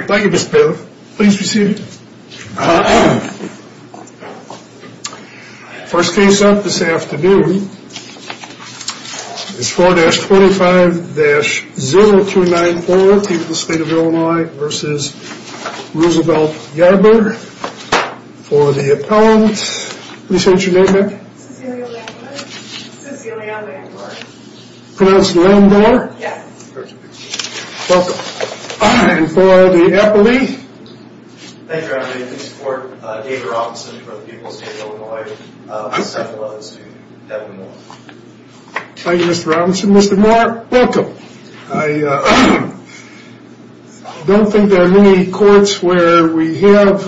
Thank you Mr. Piller. Please be seated. First case up this afternoon is 4-25-0294, Team of the State of Illinois v. Roosevelt Yarber for the appellant. What did you say your name was? Cecilia Van Buren. Pronounce it Van Buren? Yes. Welcome. And for the appellee? Thank you. I'm here to support David Robinson for the people of the State of Illinois. Thank you Mr. Robinson. Mr. Moore, welcome. I don't think there are many courts where we have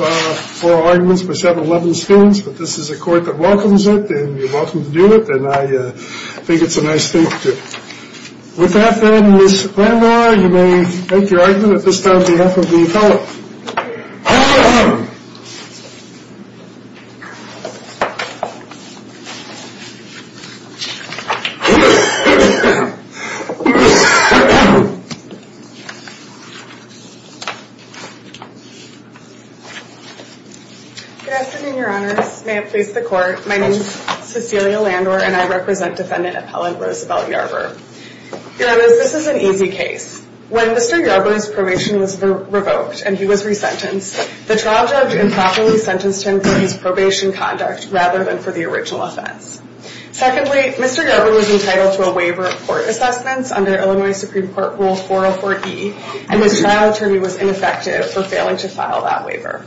oral arguments for 7-11 students but this is a court that welcomes it and you're welcome to do it and I think it's a nice thing to do. With that then Ms. Van Moore you may make your argument this time on behalf of the appellant. Good afternoon your honors. May it please the court. My name is Cecilia Landor and I represent defendant appellant Roosevelt Yarber. Your honors, this is an easy case. When Mr. Yarber's probation was revoked and he was resentenced, the trial judge improperly sentenced him for his probation conduct rather than for the original offense. Secondly, Mr. Yarber was entitled to a waiver of court assessments under Illinois Supreme Court Rule 404-E and his trial attorney was ineffective for failing to file that waiver.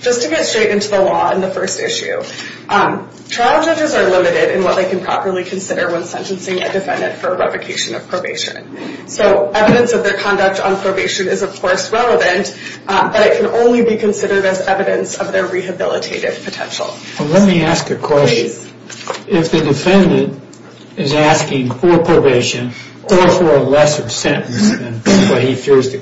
Just to get straight into the law and the first issue, trial judges are limited in what they can properly consider when sentencing a defendant for revocation of probation. So evidence of their conduct on probation is of course relevant but it can only be considered as evidence of their rehabilitative potential. Let me ask a question. If the defendant is asking for probation or for a lesser sentence than what he fears the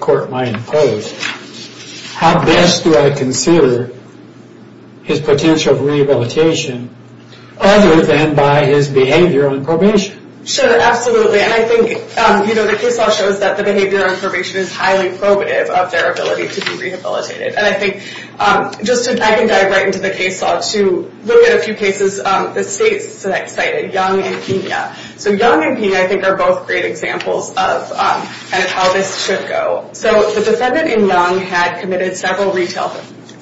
behavior on probation is highly probative of their ability to be rehabilitated. I can dive right into the case law to look at a few cases the state cited. Young and Pena. Young and Pena are both great examples of how this should go. The defendant in Young had committed several retail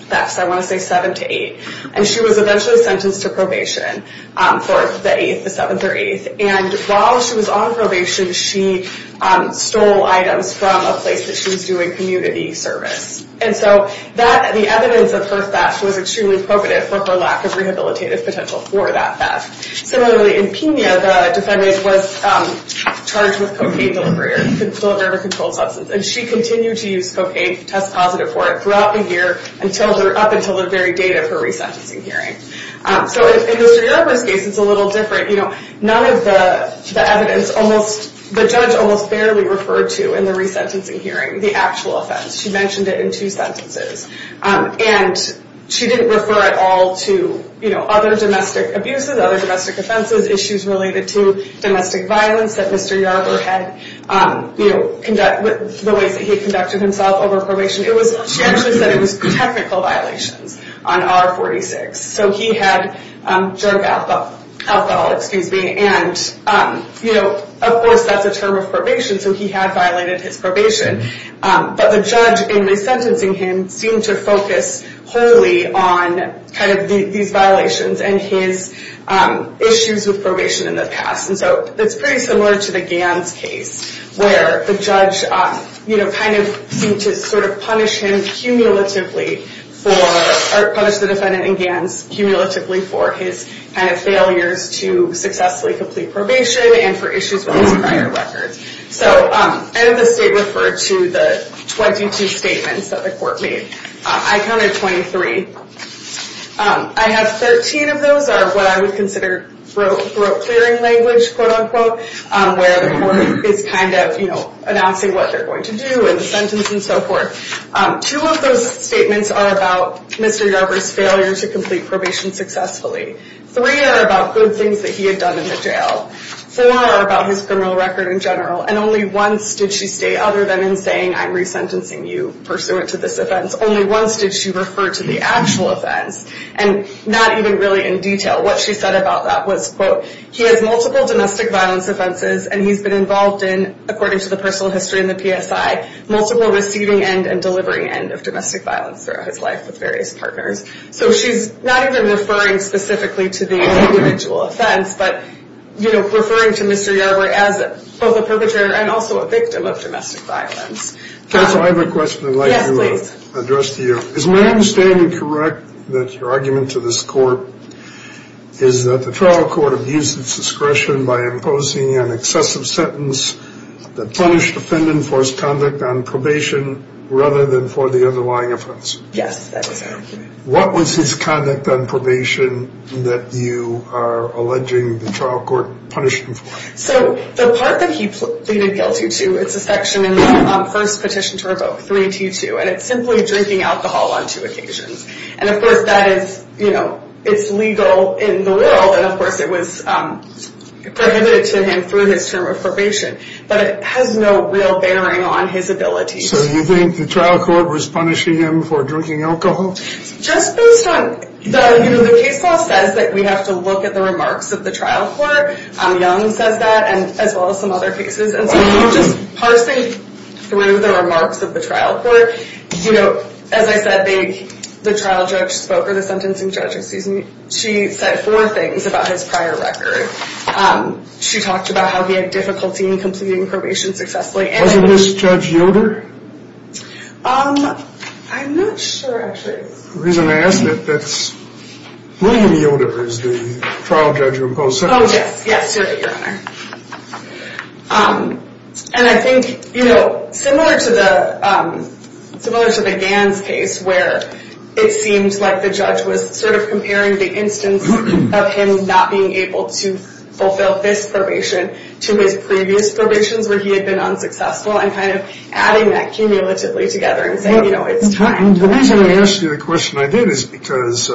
thefts, I want to say seven to eight, and she was eventually sentenced to probation for the eighth, the seventh or eighth. And while she was on probation she stole items from a place that she was doing community service. And so the evidence of her theft was extremely probative for her lack of rehabilitative potential for that theft. Similarly in Pena, the defendant was charged with cocaine delivery or a controlled substance and she continued to use cocaine, test positive for it, throughout the year up until the very date of her resentencing hearing. So in Mr. Yarber's case it's a little different. None of the evidence, the judge almost barely referred to in the resentencing hearing the actual offense. She mentioned it in two sentences. And she didn't refer at all to other domestic abuses, other domestic offenses, issues related to domestic violence that Mr. Yarber had, the ways that he conducted himself over probation. She actually said it was technical violations on R46. So he had drug alcohol, excuse me, and of course that's a term of probation so he had violated his probation. But the judge in resentencing him seemed to focus wholly on these violations and his issues with probation in the past. And so it's pretty similar to the Gans case where the judge seemed to punish him cumulatively for, or punish the defendant in Gans cumulatively for his kind of failures to successfully complete probation and for issues with his prior records. So none of the state referred to the 22 statements that the court made. I counted 23. I have 13 of those are what I would consider broke clearing language, quote unquote, where the court is kind of, you know, announcing what they're going to do in the sentence and so forth. Two of those statements are about Mr. Yarber's failure to complete probation successfully. Three are about good things that he had done in the jail. Four are about his criminal record in general. And only once did she stay other than in saying I'm resentencing you pursuant to this offense. Only once did she refer to the actual offense. And not even really in detail. What she said about that was, quote, he has multiple domestic violence offenses and he's been involved in, according to the personal history and the PSI, multiple receiving end and delivering end of domestic violence throughout his life with various partners. So she's not even referring specifically to the individual offense, but, you know, referring to Mr. Yarber as both a perpetrator and also a victim of domestic violence. Counsel, I have a question I'd like to address to you. Yes, please. Is my understanding correct that your argument to this court is that the trial court abused its discretion by imposing an excessive sentence that punished the defendant for his conduct on probation rather than for the underlying offense? Yes, that is correct. What was his conduct on probation that you are alleging the trial court punished him for? So the part that he pleaded guilty to, it's a section in the first petition to revoke, 3T2, and it's simply drinking alcohol on two occasions. And of course that is, you know, it's legal in the world, and of course it was prohibited to him through his term of probation. But it has no real bearing on his abilities. So you think the trial court was punishing him for drinking alcohol? Just based on, you know, the case law says that we have to look at the remarks of the trial court. Young says that, as well as some other cases. And so just parsing through the remarks of the trial court, you know, as I said, the trial judge spoke, or the sentencing judge, excuse me, she said four things about his prior record. She talked about how he had difficulty in completing probation successfully. Wasn't this Judge Yoder? I'm not sure, actually. The reason I asked it, that's William Yoder is the trial judge who opposed sentencing. Oh, yes, yes, sir, your honor. And I think, you know, similar to the Gans case, where it seemed like the judge was sort of comparing the instance of him not being able to fulfill this probation to his previous probations where he had been unsuccessful, and kind of adding that cumulatively together and saying, you know, it's time. The reason I asked you the question I did is because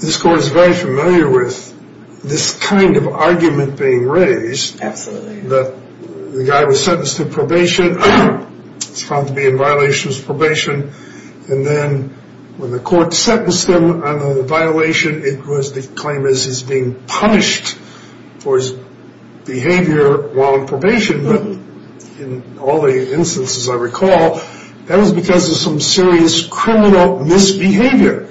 this court is very familiar with this kind of argument being raised. Absolutely. The guy was sentenced to probation. He was found to be in violation of his probation. And then when the court sentenced him on a violation, it was the claim that he was being punished for his behavior while in probation. But in all the instances I recall, that was because of some serious criminal misbehavior.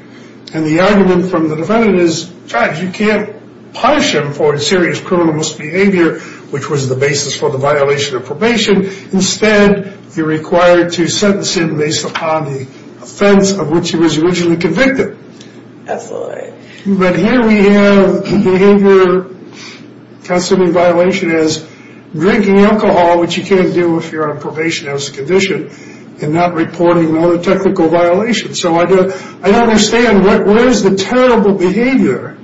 And the argument from the defendant is, judge, you can't punish him for his serious criminal misbehavior, which was the basis for the violation of probation. Instead, you're required to sentence him based upon the offense of which he was originally convicted. Absolutely. But here we have the behavior considering violation as drinking alcohol, which you can't do if you're on probation as a condition, and not reporting another technical violation. So I don't understand. What is the terrible behavior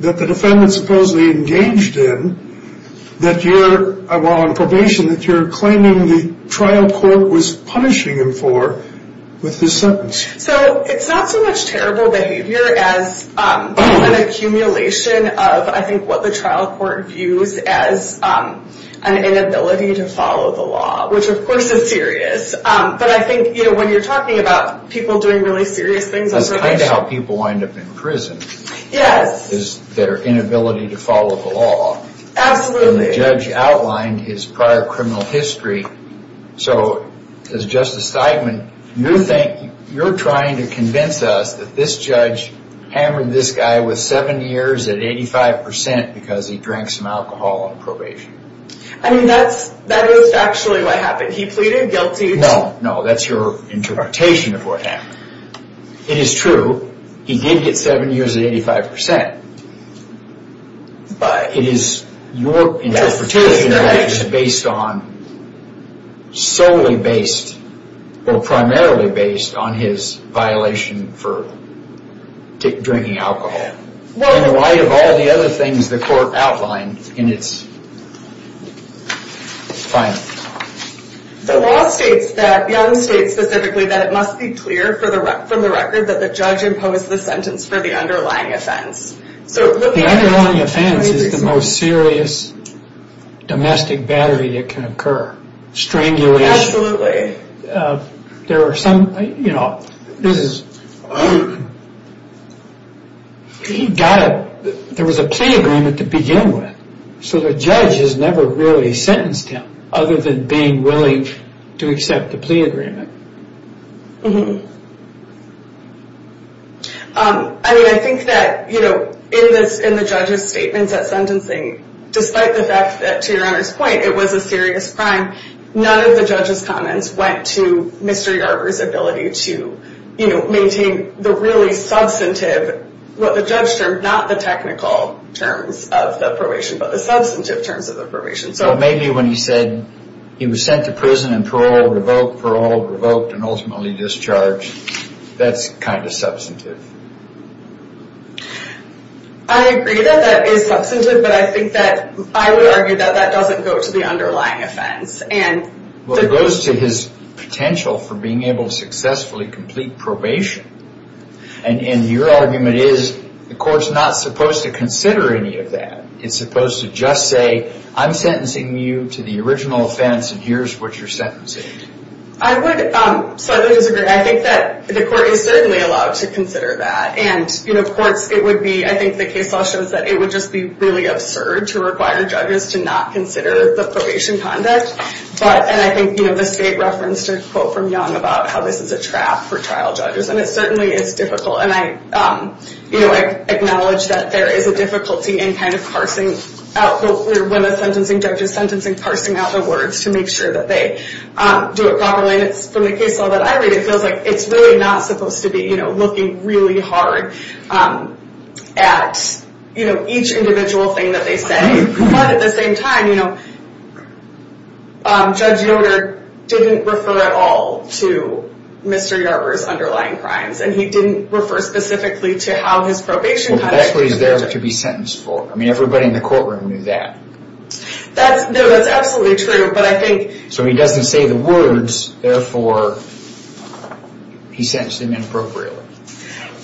that the defendant supposedly engaged in while on probation that you're claiming the trial court was punishing him for with his sentence? So it's not so much terrible behavior as an accumulation of, I think, what the trial court views as an inability to follow the law, which of course is serious. But I think when you're talking about people doing really serious things on probation... That's kind of how people wind up in prison. Yes. Is their inability to follow the law. Absolutely. And the judge outlined his prior criminal history. So, as Justice Steigman, you're trying to convince us that this judge hammered this guy with seven years at 85% because he drank some alcohol on probation. I mean, that's actually what happened. He pleaded guilty to... No, no. That's your interpretation of what happened. It is true. He did get seven years at 85%. But... It is your interpretation of it is based on, solely based, or primarily based on his violation for drinking alcohol. And why of all the other things the court outlined in its final... The law states that, Young states specifically that it must be clear from the record that the judge imposed the sentence for the underlying offense. The underlying offense is the most serious domestic battery that can occur. Strangulation. Absolutely. There was a plea agreement to begin with, so the judge has never really sentenced him other than being willing to accept the plea agreement. I mean, I think that in the judge's statements at sentencing, despite the fact that, to your Honor's point, it was a serious crime, none of the judge's comments went to Mr. Yarber's ability to maintain the really substantive, what the judge termed, not the technical terms of the probation, but the substantive terms of the probation. So maybe when he said he was sent to prison and parole revoked, parole revoked and ultimately discharged, that's kind of substantive. I agree that that is substantive, but I think that, I would argue that that doesn't go to the underlying offense. Well, it goes to his potential for being able to successfully complete probation. And your argument is the court's not supposed to consider any of that. It's supposed to just say, I'm sentencing you to the original offense and here's what you're sentencing. I would slightly disagree. I think that the court is certainly allowed to consider that. And courts, it would be, I think the case law shows that it would just be really absurd to require judges to not consider the probation conduct. And I think the state referenced a quote from Young about how this is a trap for trial judges. And it certainly is difficult. And I acknowledge that there is a difficulty in kind of parsing out, when a sentencing judge is sentencing, parsing out the words to make sure that they do it properly. And from the case law that I read, it feels like it's really not supposed to be looking really hard at each individual thing that they say. But at the same time, Judge Yoder didn't refer at all to Mr. Yarber's underlying crimes. And he didn't refer specifically to how his probation conduct. Well, that's what he's there to be sentenced for. I mean, everybody in the courtroom knew that. No, that's absolutely true. So he doesn't say the words. Therefore, he sentenced him inappropriately.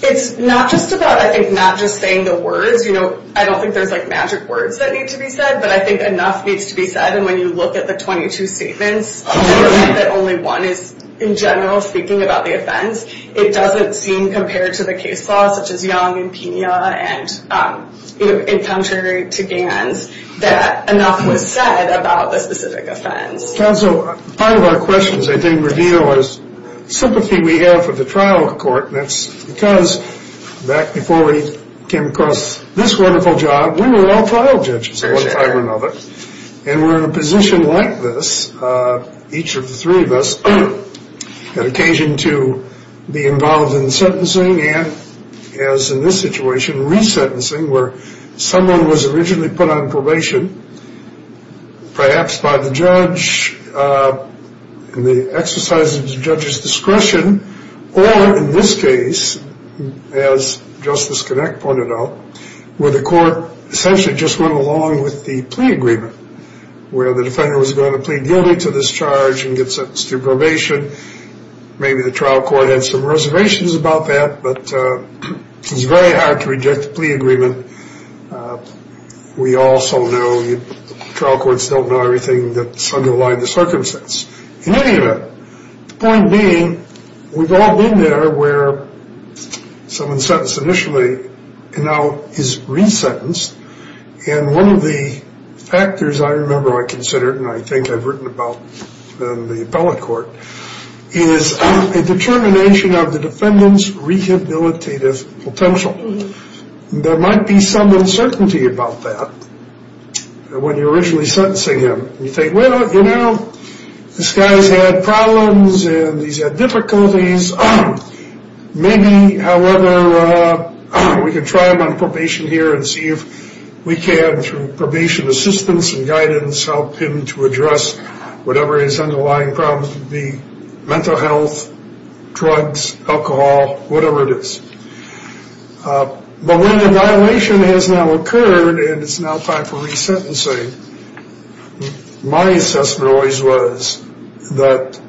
It's not just about, I think, not just saying the words. You know, I don't think there's like magic words that need to be said. But I think enough needs to be said. And when you look at the 22 statements, that only one is in general speaking about the offense, it doesn't seem compared to the case law, such as Young and Pena, and, you know, in contrary to Gans, that enough was said about the specific offense. Counsel, part of our questions, I think, reveal is sympathy we have for the trial court. And that's because back before we came across this wonderful job, we were all trial judges one time or another. And we're in a position like this, each of the three of us, an occasion to be involved in sentencing and, as in this situation, resentencing, where someone was originally put on probation, perhaps by the judge in the exercise of the judge's discretion, or in this case, as Justice Connick pointed out, where the court essentially just went along with the plea agreement, where the defendant was going to plead guilty to this charge and get sentenced to probation. Maybe the trial court had some reservations about that, but it's very hard to reject a plea agreement. We also know the trial courts don't know everything that's underlying the circumstance. In any event, the point being, we've all been there where someone's sentenced initially and now is resentenced. And one of the factors I remember I considered, and I think I've written about in the appellate court, is a determination of the defendant's rehabilitative potential. There might be some uncertainty about that when you're originally sentencing him. You think, well, you know, this guy's had problems and he's had difficulties. Maybe, however, we could try him on probation here and see if we can, through probation assistance and guidance, help him to address whatever his underlying problems would be, mental health, drugs, alcohol, whatever it is. But when the violation has now occurred and it's now time for resentencing, my assessment always was that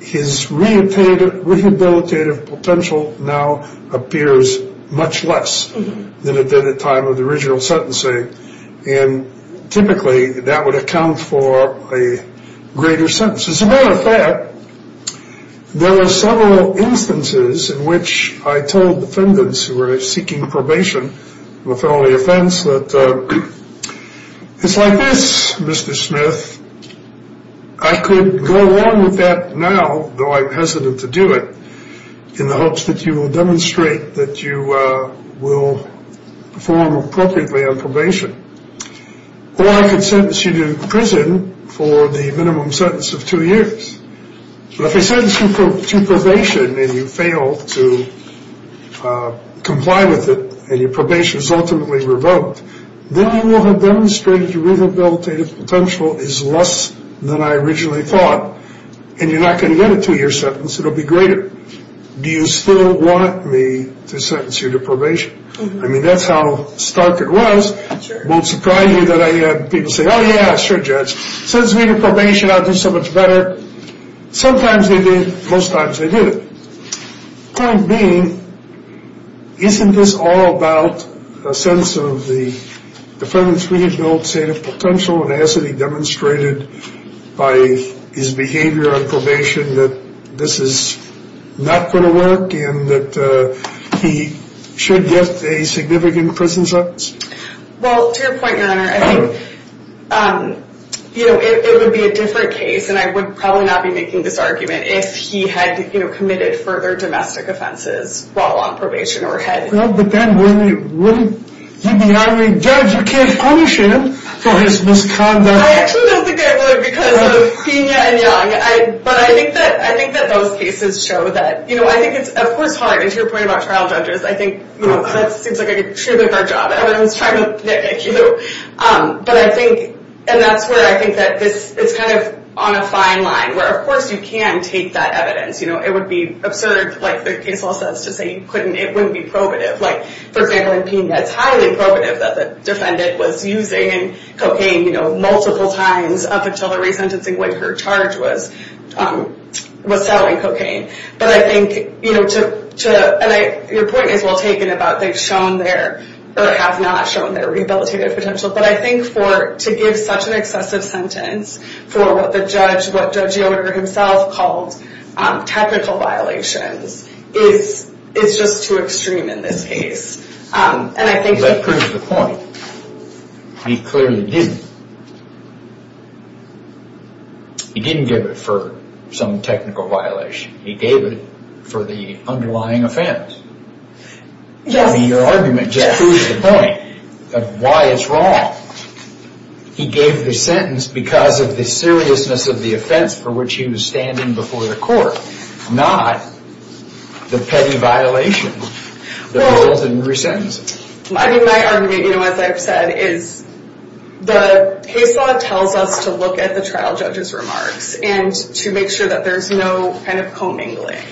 his rehabilitative potential now appears much less than it did at the time of the original sentencing. And typically, that would account for a greater sentence. As a matter of fact, there were several instances in which I told defendants who were seeking probation, with all the offense, that it's like this, Mr. Smith. I could go along with that now, though I'm hesitant to do it, in the hopes that you will demonstrate that you will perform appropriately on probation. Or I could sentence you to prison for the minimum sentence of two years. But if I sentence you to probation and you fail to comply with it and your probation is ultimately revoked, then you will have demonstrated your rehabilitative potential is less than I originally thought. And you're not going to get a two-year sentence. It will be greater. Do you still want me to sentence you to probation? I mean, that's how stark it was. It won't surprise you that I had people say, oh, yeah, sure, Judge. Sentence me to probation. I'll do so much better. Sometimes they did. Most times they didn't. Point being, isn't this all about a sense of the defendants rehabilitative potential and hasn't he demonstrated by his behavior on probation that this is not going to work and that he should get a significant prison sentence? Well, to your point, Your Honor, I think it would be a different case and I would probably not be making this argument if he had committed further domestic offenses while on probation. Well, but then wouldn't he be highly judged? You can't punish him for his misconduct. I actually don't think I would because of Pena and Young. But I think that those cases show that. I think it's, of course, hard. And to your point about trial judges, I think that seems like a truly hard job. But I think, and that's where I think that it's kind of on a fine line, where, of course, you can take that evidence. It would be absurd, like the case law says, to say you couldn't. It wouldn't be probative. Like, for example, in Pena, it's highly probative that the defendant was using cocaine multiple times up until the resentencing when her charge was selling cocaine. But I think, you know, to, and your point is well taken about they've shown their, or have not shown their rehabilitative potential. But I think for, to give such an excessive sentence for what the judge, what Judge Yoder himself called technical violations is just too extreme in this case. And I think... Because that proves the point. He clearly didn't. He didn't give it for some technical violation. He gave it for the underlying offense. Yes. I mean, your argument just proves the point of why it's wrong. He gave the sentence because of the seriousness of the offense for which he was standing before the court, not the petty violation that resulted in resentencing. Well, I mean, my argument, you know, as I've said, is the case law tells us to look at the trial judge's remarks and to make sure that there's no kind of commingling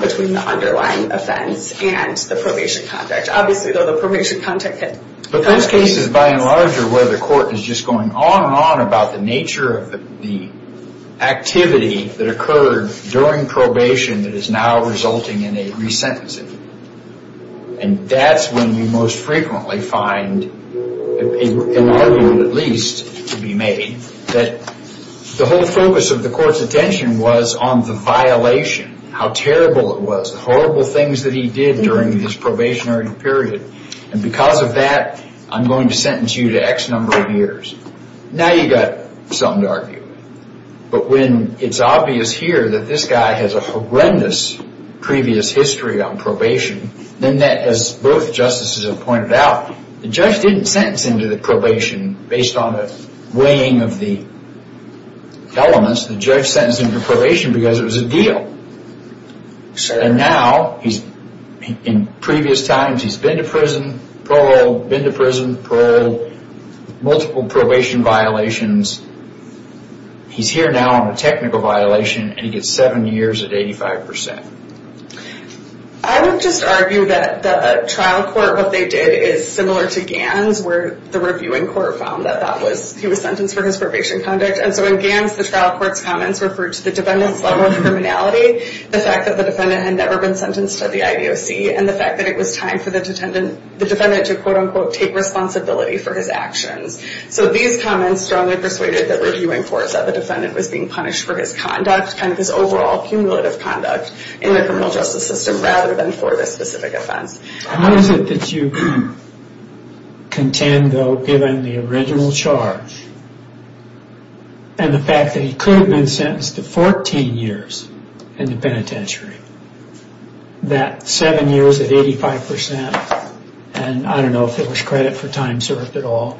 between the underlying offense and the probation contract. Obviously, though, the probation contract could... But this case is by and larger where the court is just going on and on about the nature of the activity that occurred during probation that is now resulting in a resentencing. And that's when you most frequently find an argument, at least, to be made, that the whole focus of the court's attention was on the violation, how terrible it was, the horrible things that he did during his probationary period. And because of that, I'm going to sentence you to X number of years. Now you've got something to argue. But when it's obvious here that this guy has a horrendous previous history on probation, then that, as both justices have pointed out, the judge didn't sentence him to the probation based on the weighing of the elements. The judge sentenced him to probation because it was a deal. And now, in previous times, he's been to prison, paroled, been to prison, paroled, multiple probation violations. He's here now on a technical violation, and he gets seven years at 85%. I would just argue that the trial court, what they did is similar to GANs, where the reviewing court found that he was sentenced for his probation conduct. And so in GANs, the trial court's comments referred to the defendant's level of criminality, the fact that the defendant had never been sentenced to the IDOC, and the fact that it was time for the defendant to, quote-unquote, take responsibility for his actions. So these comments strongly persuaded the reviewing courts that the defendant was being punished for his conduct, kind of his overall cumulative conduct, in the criminal justice system rather than for this specific offense. How is it that you contend, though, given the original charge and the fact that he could have been sentenced to 14 years in the penitentiary, that seven years at 85%, and I don't know if there was credit for time served at all,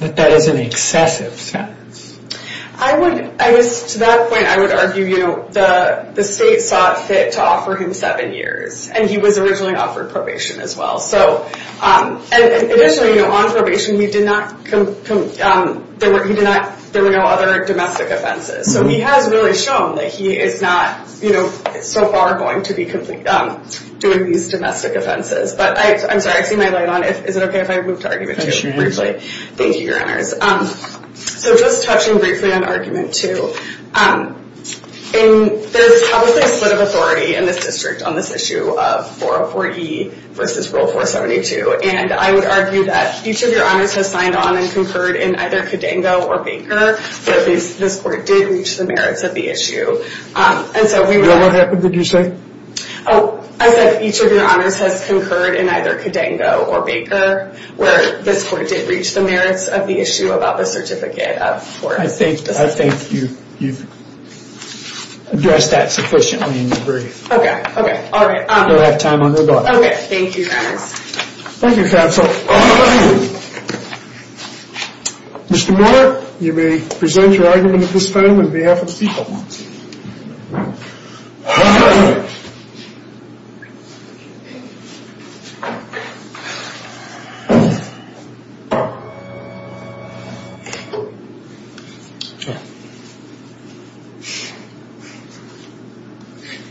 that that is an excessive sentence? I would, to that point, I would argue the state saw it fit to offer him seven years, and he was originally offered probation as well. Additionally, on probation, there were no other domestic offenses. So he has really shown that he is not, you know, so far going to be doing these domestic offenses. But I'm sorry, I've seen my light on. Is it okay if I move to argument two briefly? Thank you, Your Honors. So just touching briefly on argument two, there's probably a split of authority in this district on this issue of 404E versus Rule 472, and I would argue that each of Your Honors has signed on and concurred in either Cadango or Baker, but this court did reach the merits of the issue. And so we would— No, what happened, did you say? Oh, I said each of Your Honors has concurred in either Cadango or Baker, where this court did reach the merits of the issue about the certificate of 404E. I think you've addressed that sufficiently in your brief. Okay, okay, all right. We don't have time, I'm going to go ahead. Okay, thank you, Your Honors. Thank you, Counsel. Mr. Moore, you may present your argument at this time on behalf of the people.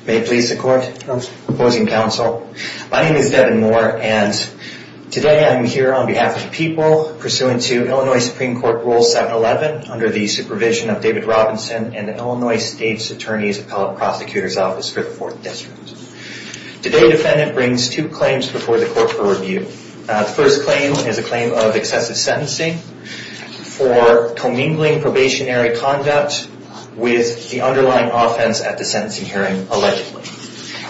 May it please the Court? Opposing Counsel, my name is Devin Moore, and today I'm here on behalf of the people, pursuant to Illinois Supreme Court Rule 711, under the supervision of David Robinson and the Illinois State's Attorney's Appellate Prosecutor's Office for the Fourth District. Today, the defendant brings two claims before the court for review. The first claim is a claim of excessive sentencing for commingling probationary conduct with the underlying offense at the sentencing hearing allegedly.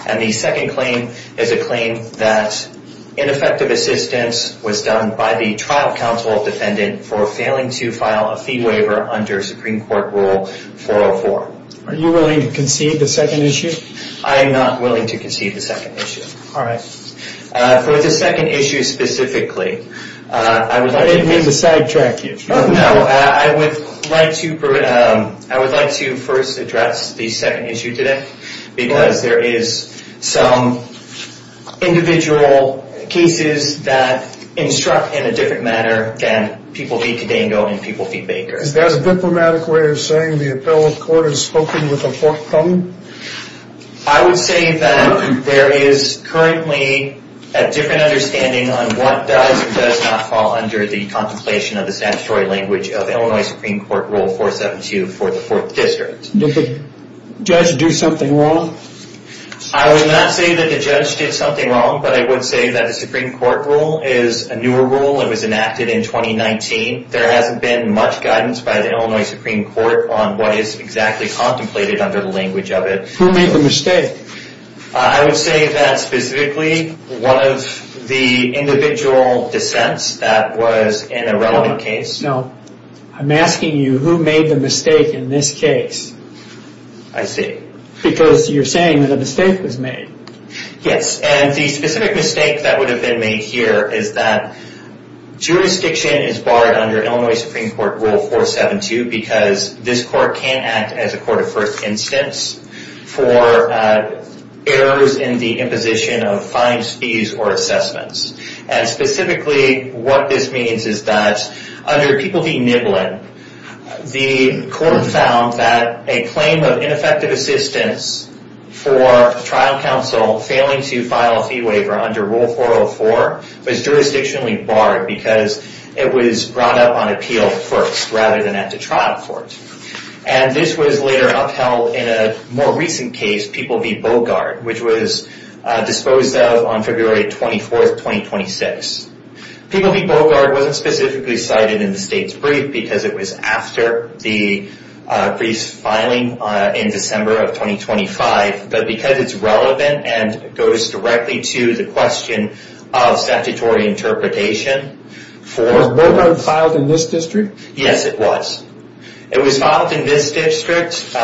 And the second claim is a claim that ineffective assistance was done by the trial counsel defendant for failing to file a fee waiver under Supreme Court Rule 404. Are you willing to concede the second issue? I am not willing to concede the second issue. All right. For the second issue specifically, I would like to... I didn't mean to sidetrack you. No, I would like to first address the second issue today because there is some individual cases that instruct in a different manner than people feed Kodango and people feed Baker. Is that a diplomatic way of saying the appellate court has spoken with a fourth problem? I would say that there is currently a different understanding on what does or does not fall under the contemplation of the statutory language of Illinois Supreme Court Rule 472 for the Fourth District. Did the judge do something wrong? I would not say that the judge did something wrong, but I would say that the Supreme Court Rule is a newer rule. It was enacted in 2019. There hasn't been much guidance by the Illinois Supreme Court on what is exactly contemplated under the language of it. Who made the mistake? I would say that specifically one of the individual dissents that was an irrelevant case. I'm asking you who made the mistake in this case? I see. Because you're saying that a mistake was made. Yes, and the specific mistake that would have been made here is that jurisdiction is barred under Illinois Supreme Court Rule 472 because this court can't act as a court of first instance for errors in the imposition of fines, fees, or assessments. Specifically, what this means is that under People v. Niblin, the court found that a claim of ineffective assistance for a trial counsel failing to file a fee waiver under Rule 404 was jurisdictionally barred because it was brought up on appeal first rather than at the trial court. This was later upheld in a more recent case, People v. Bogart, which was disposed of on February 24th, 2026. People v. Bogart wasn't specifically cited in the state's brief because it was after the brief's filing in December of 2025, but because it's relevant and goes directly to the question of statutory interpretation. Was Bogart filed in this district? Yes, it was. It was filed in this district.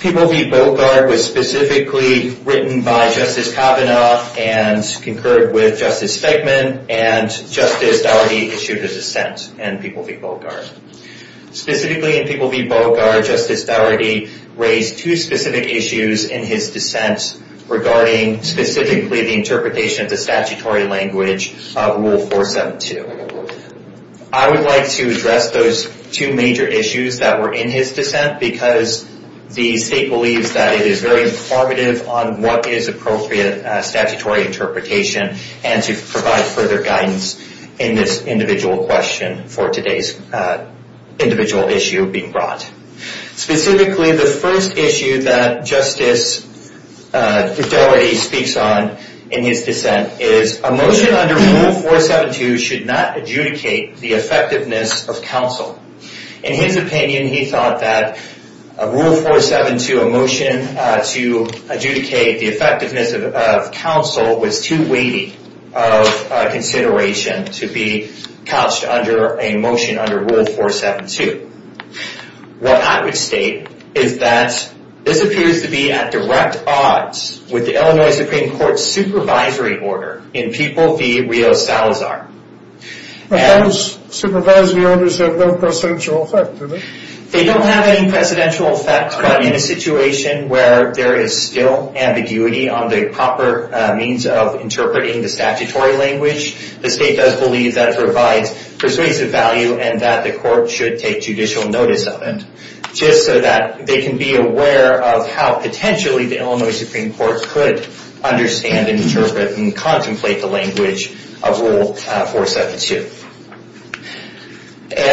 People v. Bogart was specifically written by Justice Kavanaugh and concurred with Justice Feigman, and Justice Dougherty issued a dissent in People v. Bogart. Specifically in People v. Bogart, Justice Dougherty raised two specific issues in his dissent regarding specifically the interpretation of the statutory language of Rule 472. I would like to address those two major issues that were in his dissent because the state believes that it is very informative on what is appropriate statutory interpretation and to provide further guidance in this individual question for today's individual issue being brought. Specifically, the first issue that Justice Dougherty speaks on in his dissent is a motion under Rule 472 should not adjudicate the effectiveness of counsel. In his opinion, he thought that Rule 472, a motion to adjudicate the effectiveness of counsel, was too weighty of a consideration to be couched under a motion under Rule 472. What I would state is that this appears to be at direct odds with the Illinois Supreme Court's supervisory order in People v. Rio Salazar. Those supervisory orders have no precedential effect, do they? They don't have any precedential effect, but in a situation where there is still ambiguity on the proper means of interpreting the statutory language, the state does believe that it provides persuasive value and that the court should take judicial notice of it just so that they can be aware of how potentially the Illinois Supreme Court could understand and interpret and contemplate the language of Rule 472.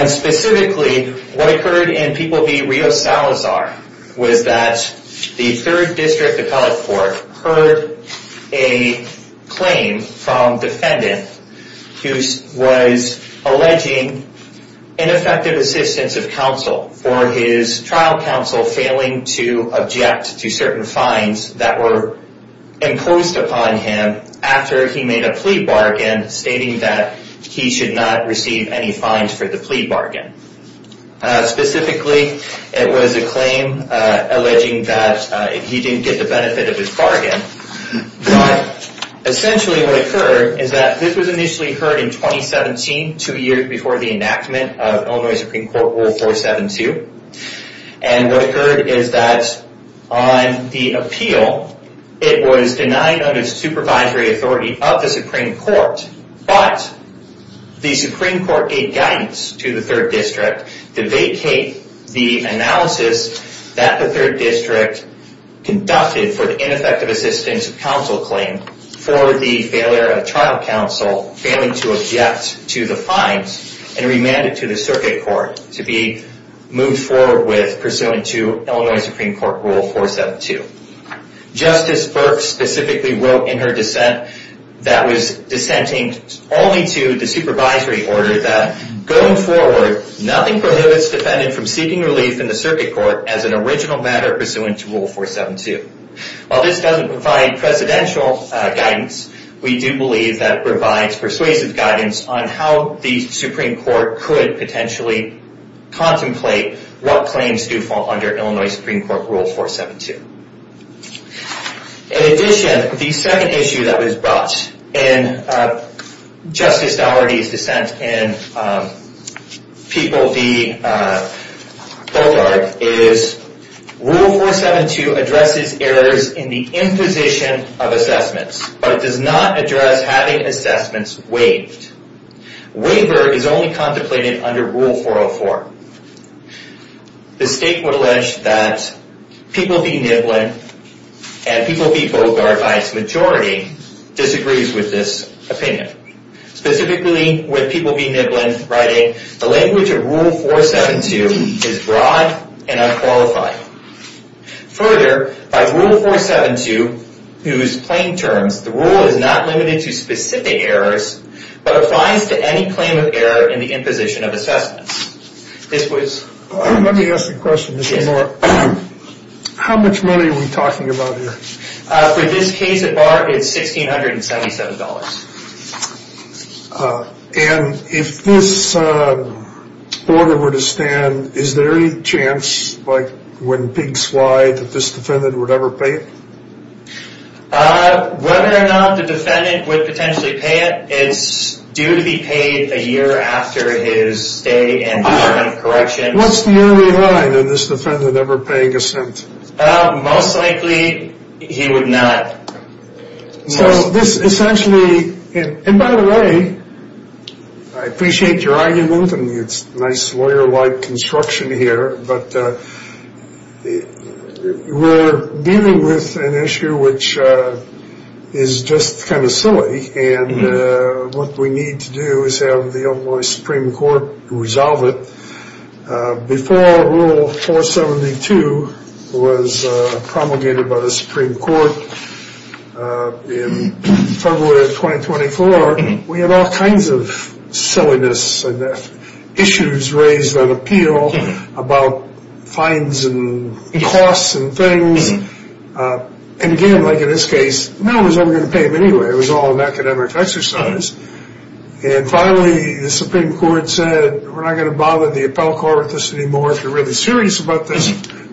Specifically, what occurred in People v. Rio Salazar was that the 3rd District Appellate Court heard a claim from defendant who was alleging ineffective assistance of counsel for his trial counsel failing to object to certain fines that were imposed upon him after he made a plea bargain stating that he should not receive any fines for the plea bargain. Specifically, it was a claim alleging that he didn't get the benefit of his bargain. Essentially, what occurred is that this was initially heard in 2017, two years before the enactment of Illinois Supreme Court Rule 472. What occurred is that on the appeal, it was denied under supervisory authority of the Supreme Court, but the Supreme Court gave guidance to the 3rd District to vacate the analysis that the 3rd District conducted for the ineffective assistance of counsel claim for the failure of trial counsel failing to object to the fines and remand it to the Circuit Court to be moved forward with pursuant to Illinois Supreme Court Rule 472. Justice Burke specifically wrote in her dissent that was dissenting only to the supervisory order that going forward, nothing prohibits defendant from seeking relief in the Circuit Court as an original matter pursuant to Rule 472. While this doesn't provide presidential guidance, we do believe that it provides persuasive guidance on how the Supreme Court could potentially contemplate what claims do fall under Illinois Supreme Court Rule 472. In addition, the second issue that was brought in Justice Dougherty's dissent in People v. Bogart is, Rule 472 addresses errors in the imposition of assessments, but does not address having assessments waived. Waiver is only contemplated under Rule 404. The State would allege that People v. Niblin and People v. Bogart by its majority disagrees with this opinion. Specifically, with People v. Niblin writing, the language of Rule 472 is broad and unqualified. Further, by Rule 472, whose plain terms, the rule is not limited to specific errors, but applies to any claim of error in the imposition of assessments. Let me ask a question, Mr. Moore. How much money are we talking about here? For this case at bar, it's $1,677. And if this order were to stand, is there any chance, like when pigs fly, that this defendant would ever pay it? Whether or not the defendant would potentially pay it, it's due to be paid a year after his stay and his time of correction. What's the yearly line in this defendant ever paying a cent? Most likely, he would not. So this essentially, and by the way, I appreciate your argument, and it's nice lawyer-like construction here, but we're dealing with an issue which is just kind of silly, and what we need to do is have the Illinois Supreme Court resolve it. Before Rule 472 was promulgated by the Supreme Court in February of 2024, we had all kinds of silliness and issues raised on appeal about fines and costs and things. And again, like in this case, no one was ever going to pay him anyway. It was all an academic exercise. And finally, the Supreme Court said, we're not going to bother the appellate court with this anymore. If you're really serious about this,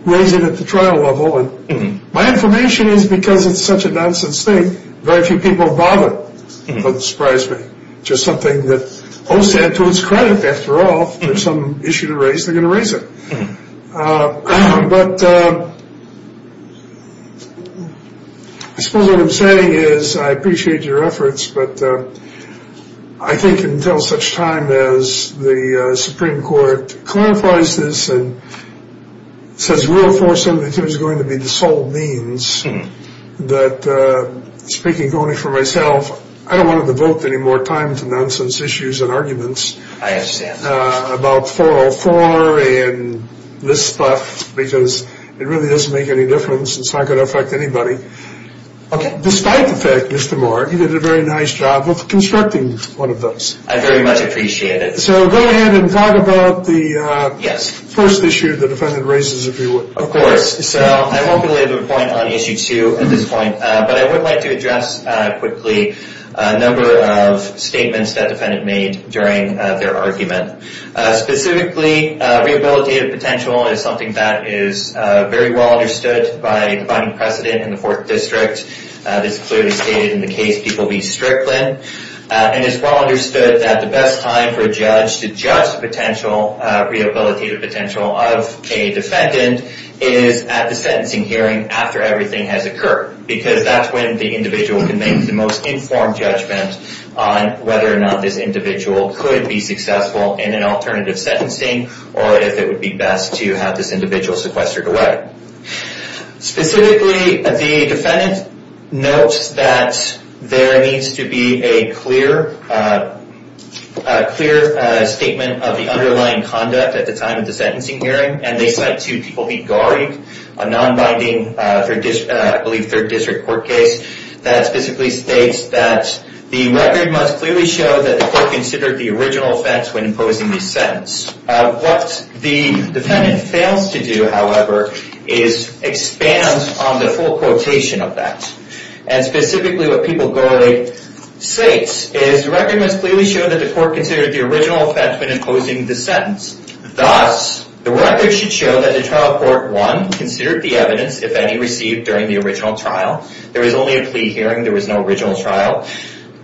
raise it at the trial level. And my information is because it's such a nonsense thing, very few people bother. It doesn't surprise me. It's just something that OSAD, to its credit, after all, if there's some issue to raise, they're going to raise it. But I suppose what I'm saying is I appreciate your efforts, but I think until such time as the Supreme Court clarifies this and says Rule 472 is going to be the sole means, that speaking only for myself, I don't want to devote any more time to nonsense issues and arguments about 404 and this stuff, because it really doesn't make any difference and it's not going to affect anybody. Okay. Despite the fact, Mr. Moore, you did a very nice job of constructing one of those. I very much appreciate it. So go ahead and talk about the first issue the defendant raises, if you would. Of course. So I won't go into a point on issue two at this point, but I would like to address quickly a number of statements that defendant made during their argument. Specifically, rehabilitative potential is something that is very well understood by defining precedent in the Fourth District. This is clearly stated in the case People v. Strickland. And it's well understood that the best time for a judge to judge the potential, rehabilitative potential of a defendant is at the sentencing hearing after everything has occurred, because that's when the individual can make the most informed judgment on whether or not this individual could be successful in an alternative sentencing or if it would be best to have this individual sequestered away. Specifically, the defendant notes that there needs to be a clear statement of the underlying conduct at the time of the sentencing hearing. And they cite to People v. Garrig, a non-binding, I believe, Third District court case, that specifically states that the record must clearly show that the court considered the original offense when imposing the sentence. What the defendant fails to do, however, is expand on the full quotation of that. And specifically, what People v. Garrig states is the record must clearly show that the court considered the original offense when imposing the sentence. Thus, the record should show that the trial court, one, considered the evidence, if any, received during the original trial. There was only a plea hearing. There was no original trial.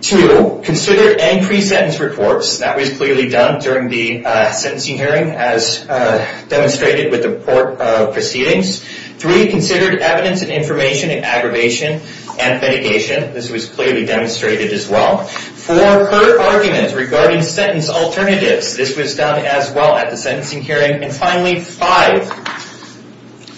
Two, considered any pre-sentence reports. That was clearly done during the sentencing hearing as demonstrated with the court proceedings. Three, considered evidence and information in aggravation and litigation. This was clearly demonstrated as well. Four, heard arguments regarding sentence alternatives. This was done as well at the sentencing hearing. And finally, five,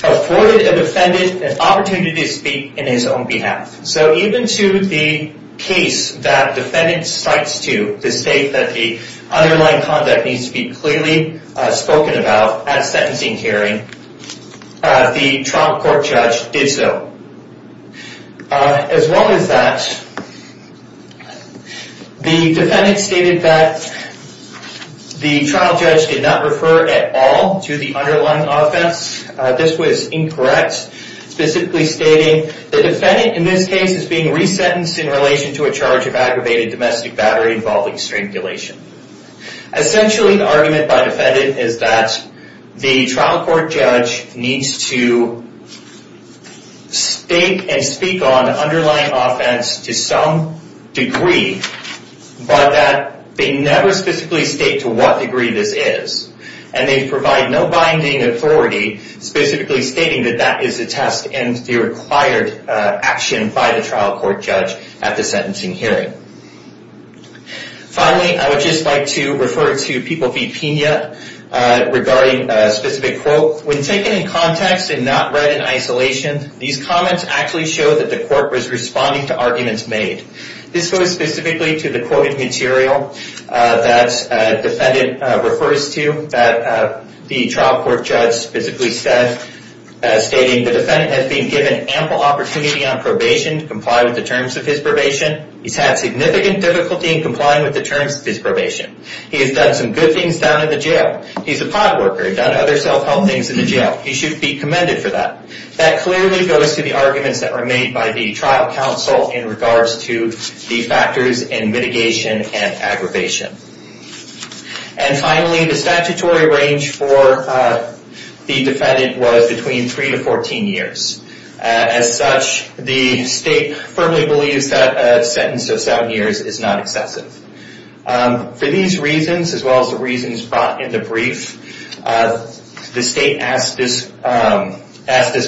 afforded a defendant an opportunity to speak in his own behalf. So even to the case that defendant cites to the state that the underlying conduct needs to be clearly spoken about at sentencing hearing, the trial court judge did so. As well as that, the defendant stated that the trial judge did not refer at all to the underlying offense. This was incorrect, specifically stating the defendant in this case is being resentenced in relation to a charge of aggravated domestic battery involving strangulation. Essentially, the argument by defendant is that the trial court judge needs to state and speak on the underlying offense to some degree, but that they never specifically state to what degree this is. And they provide no binding authority specifically stating that that is a test and the required action by the trial court judge at the sentencing hearing. Finally, I would just like to refer to People v. Pina regarding a specific quote. When taken in context and not read in isolation, these comments actually show that the court was responding to arguments made. This goes specifically to the quote material that defendant refers to that the trial court judge physically said, stating, the defendant has been given ample opportunity on probation to comply with the terms of his probation. He's had significant difficulty in complying with the terms of his probation. He has done some good things down in the jail. He's a pod worker. He's done other self-help things in the jail. He should be commended for that. That clearly goes to the arguments that were made by the trial counsel in regards to the factors in mitigation and aggravation. And finally, the statutory range for the defendant was between three to 14 years. As such, the state firmly believes that a sentence of seven years is not excessive. For these reasons, as well as the reasons brought in the brief, the state asked this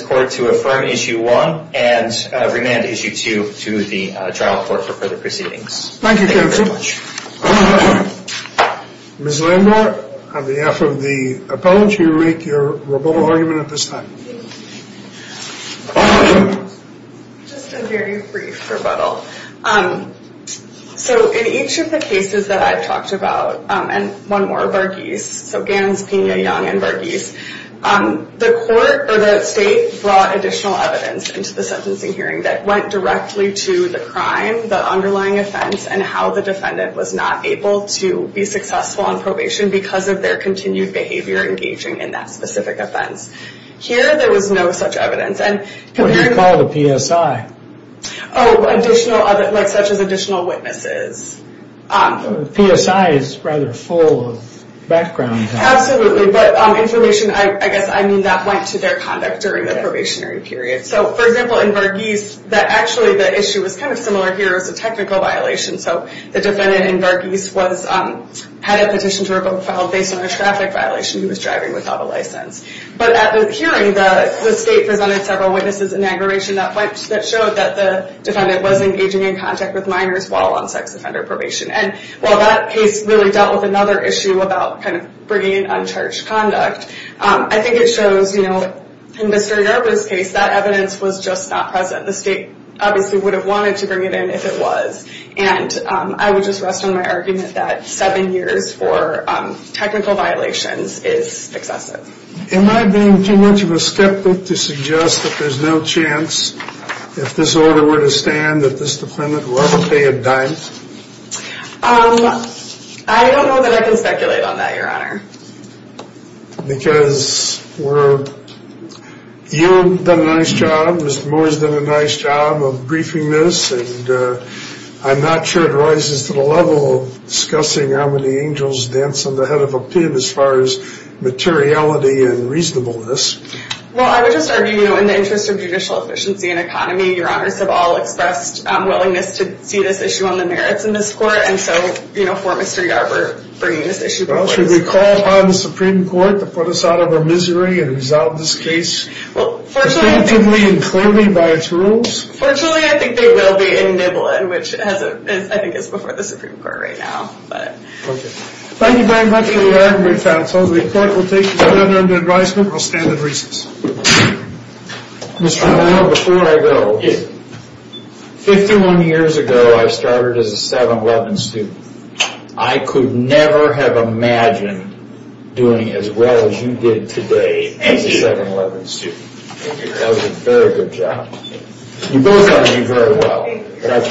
court to affirm Issue 1 and remand Issue 2 to the trial court for further proceedings. Thank you, Kevin, so much. Ms. Landau, on behalf of the appellant, will you read your rebuttal argument at this time? Just a very brief rebuttal. So in each of the cases that I've talked about, and one more, Varghese, so Gans, Pina, Young, and Varghese, the court or the state brought additional evidence into the sentencing hearing that went directly to the crime, the underlying offense, and how the defendant was not able to be successful on probation because of their continued behavior engaging in that specific offense. Here, there was no such evidence. What do you call the PSI? Oh, additional, like such as additional witnesses. PSI is rather full of background. Absolutely, but information, I guess I mean, that went to their conduct during the probationary period. So, for example, in Varghese, actually the issue was kind of similar here as a technical violation. So the defendant in Varghese had a petition to revoke a file based on a traffic violation he was driving without a license. But at the hearing, the state presented several witnesses in aggravation that showed that the defendant was engaging in contact with minors while on sex offender probation. And while that case really dealt with another issue about kind of bringing in uncharged conduct, I think it shows, you know, in Mr. Yarbrough's case, that evidence was just not present. The state obviously would have wanted to bring it in if it was. And I would just rest on my argument that seven years for technical violations is excessive. Am I being too much of a skeptic to suggest that there's no chance if this order were to stand that this defendant will ever pay a dime? I don't know that I can speculate on that, Your Honor. Because you've done a nice job, Mr. Moore's done a nice job of briefing this, and I'm not sure it rises to the level of discussing how many angels dance on the head of a pib as far as materiality and reasonableness. Well, I would just argue, you know, in the interest of judicial efficiency and economy, Your Honors have all expressed willingness to see this issue on the merits in this court. And so, you know, for Mr. Yarbrough, bringing this issue before us... Well, should we call upon the Supreme Court to put us out of our misery and resolve this case? Well, fortunately... Constantly and clearly by its rules? Fortunately, I think they will be in Niblin, which I think is before the Supreme Court right now. Okay. Thank you very much for your argument, counsel. The court will take each other under advisement. I'll stand in recess. Mr. Moore, before I go, 51 years ago, I started as a 7-Eleven student. I could never have imagined doing as well as you did today as a 7-Eleven student. Thank you, Your Honor. That was a very good job. You both are doing very well.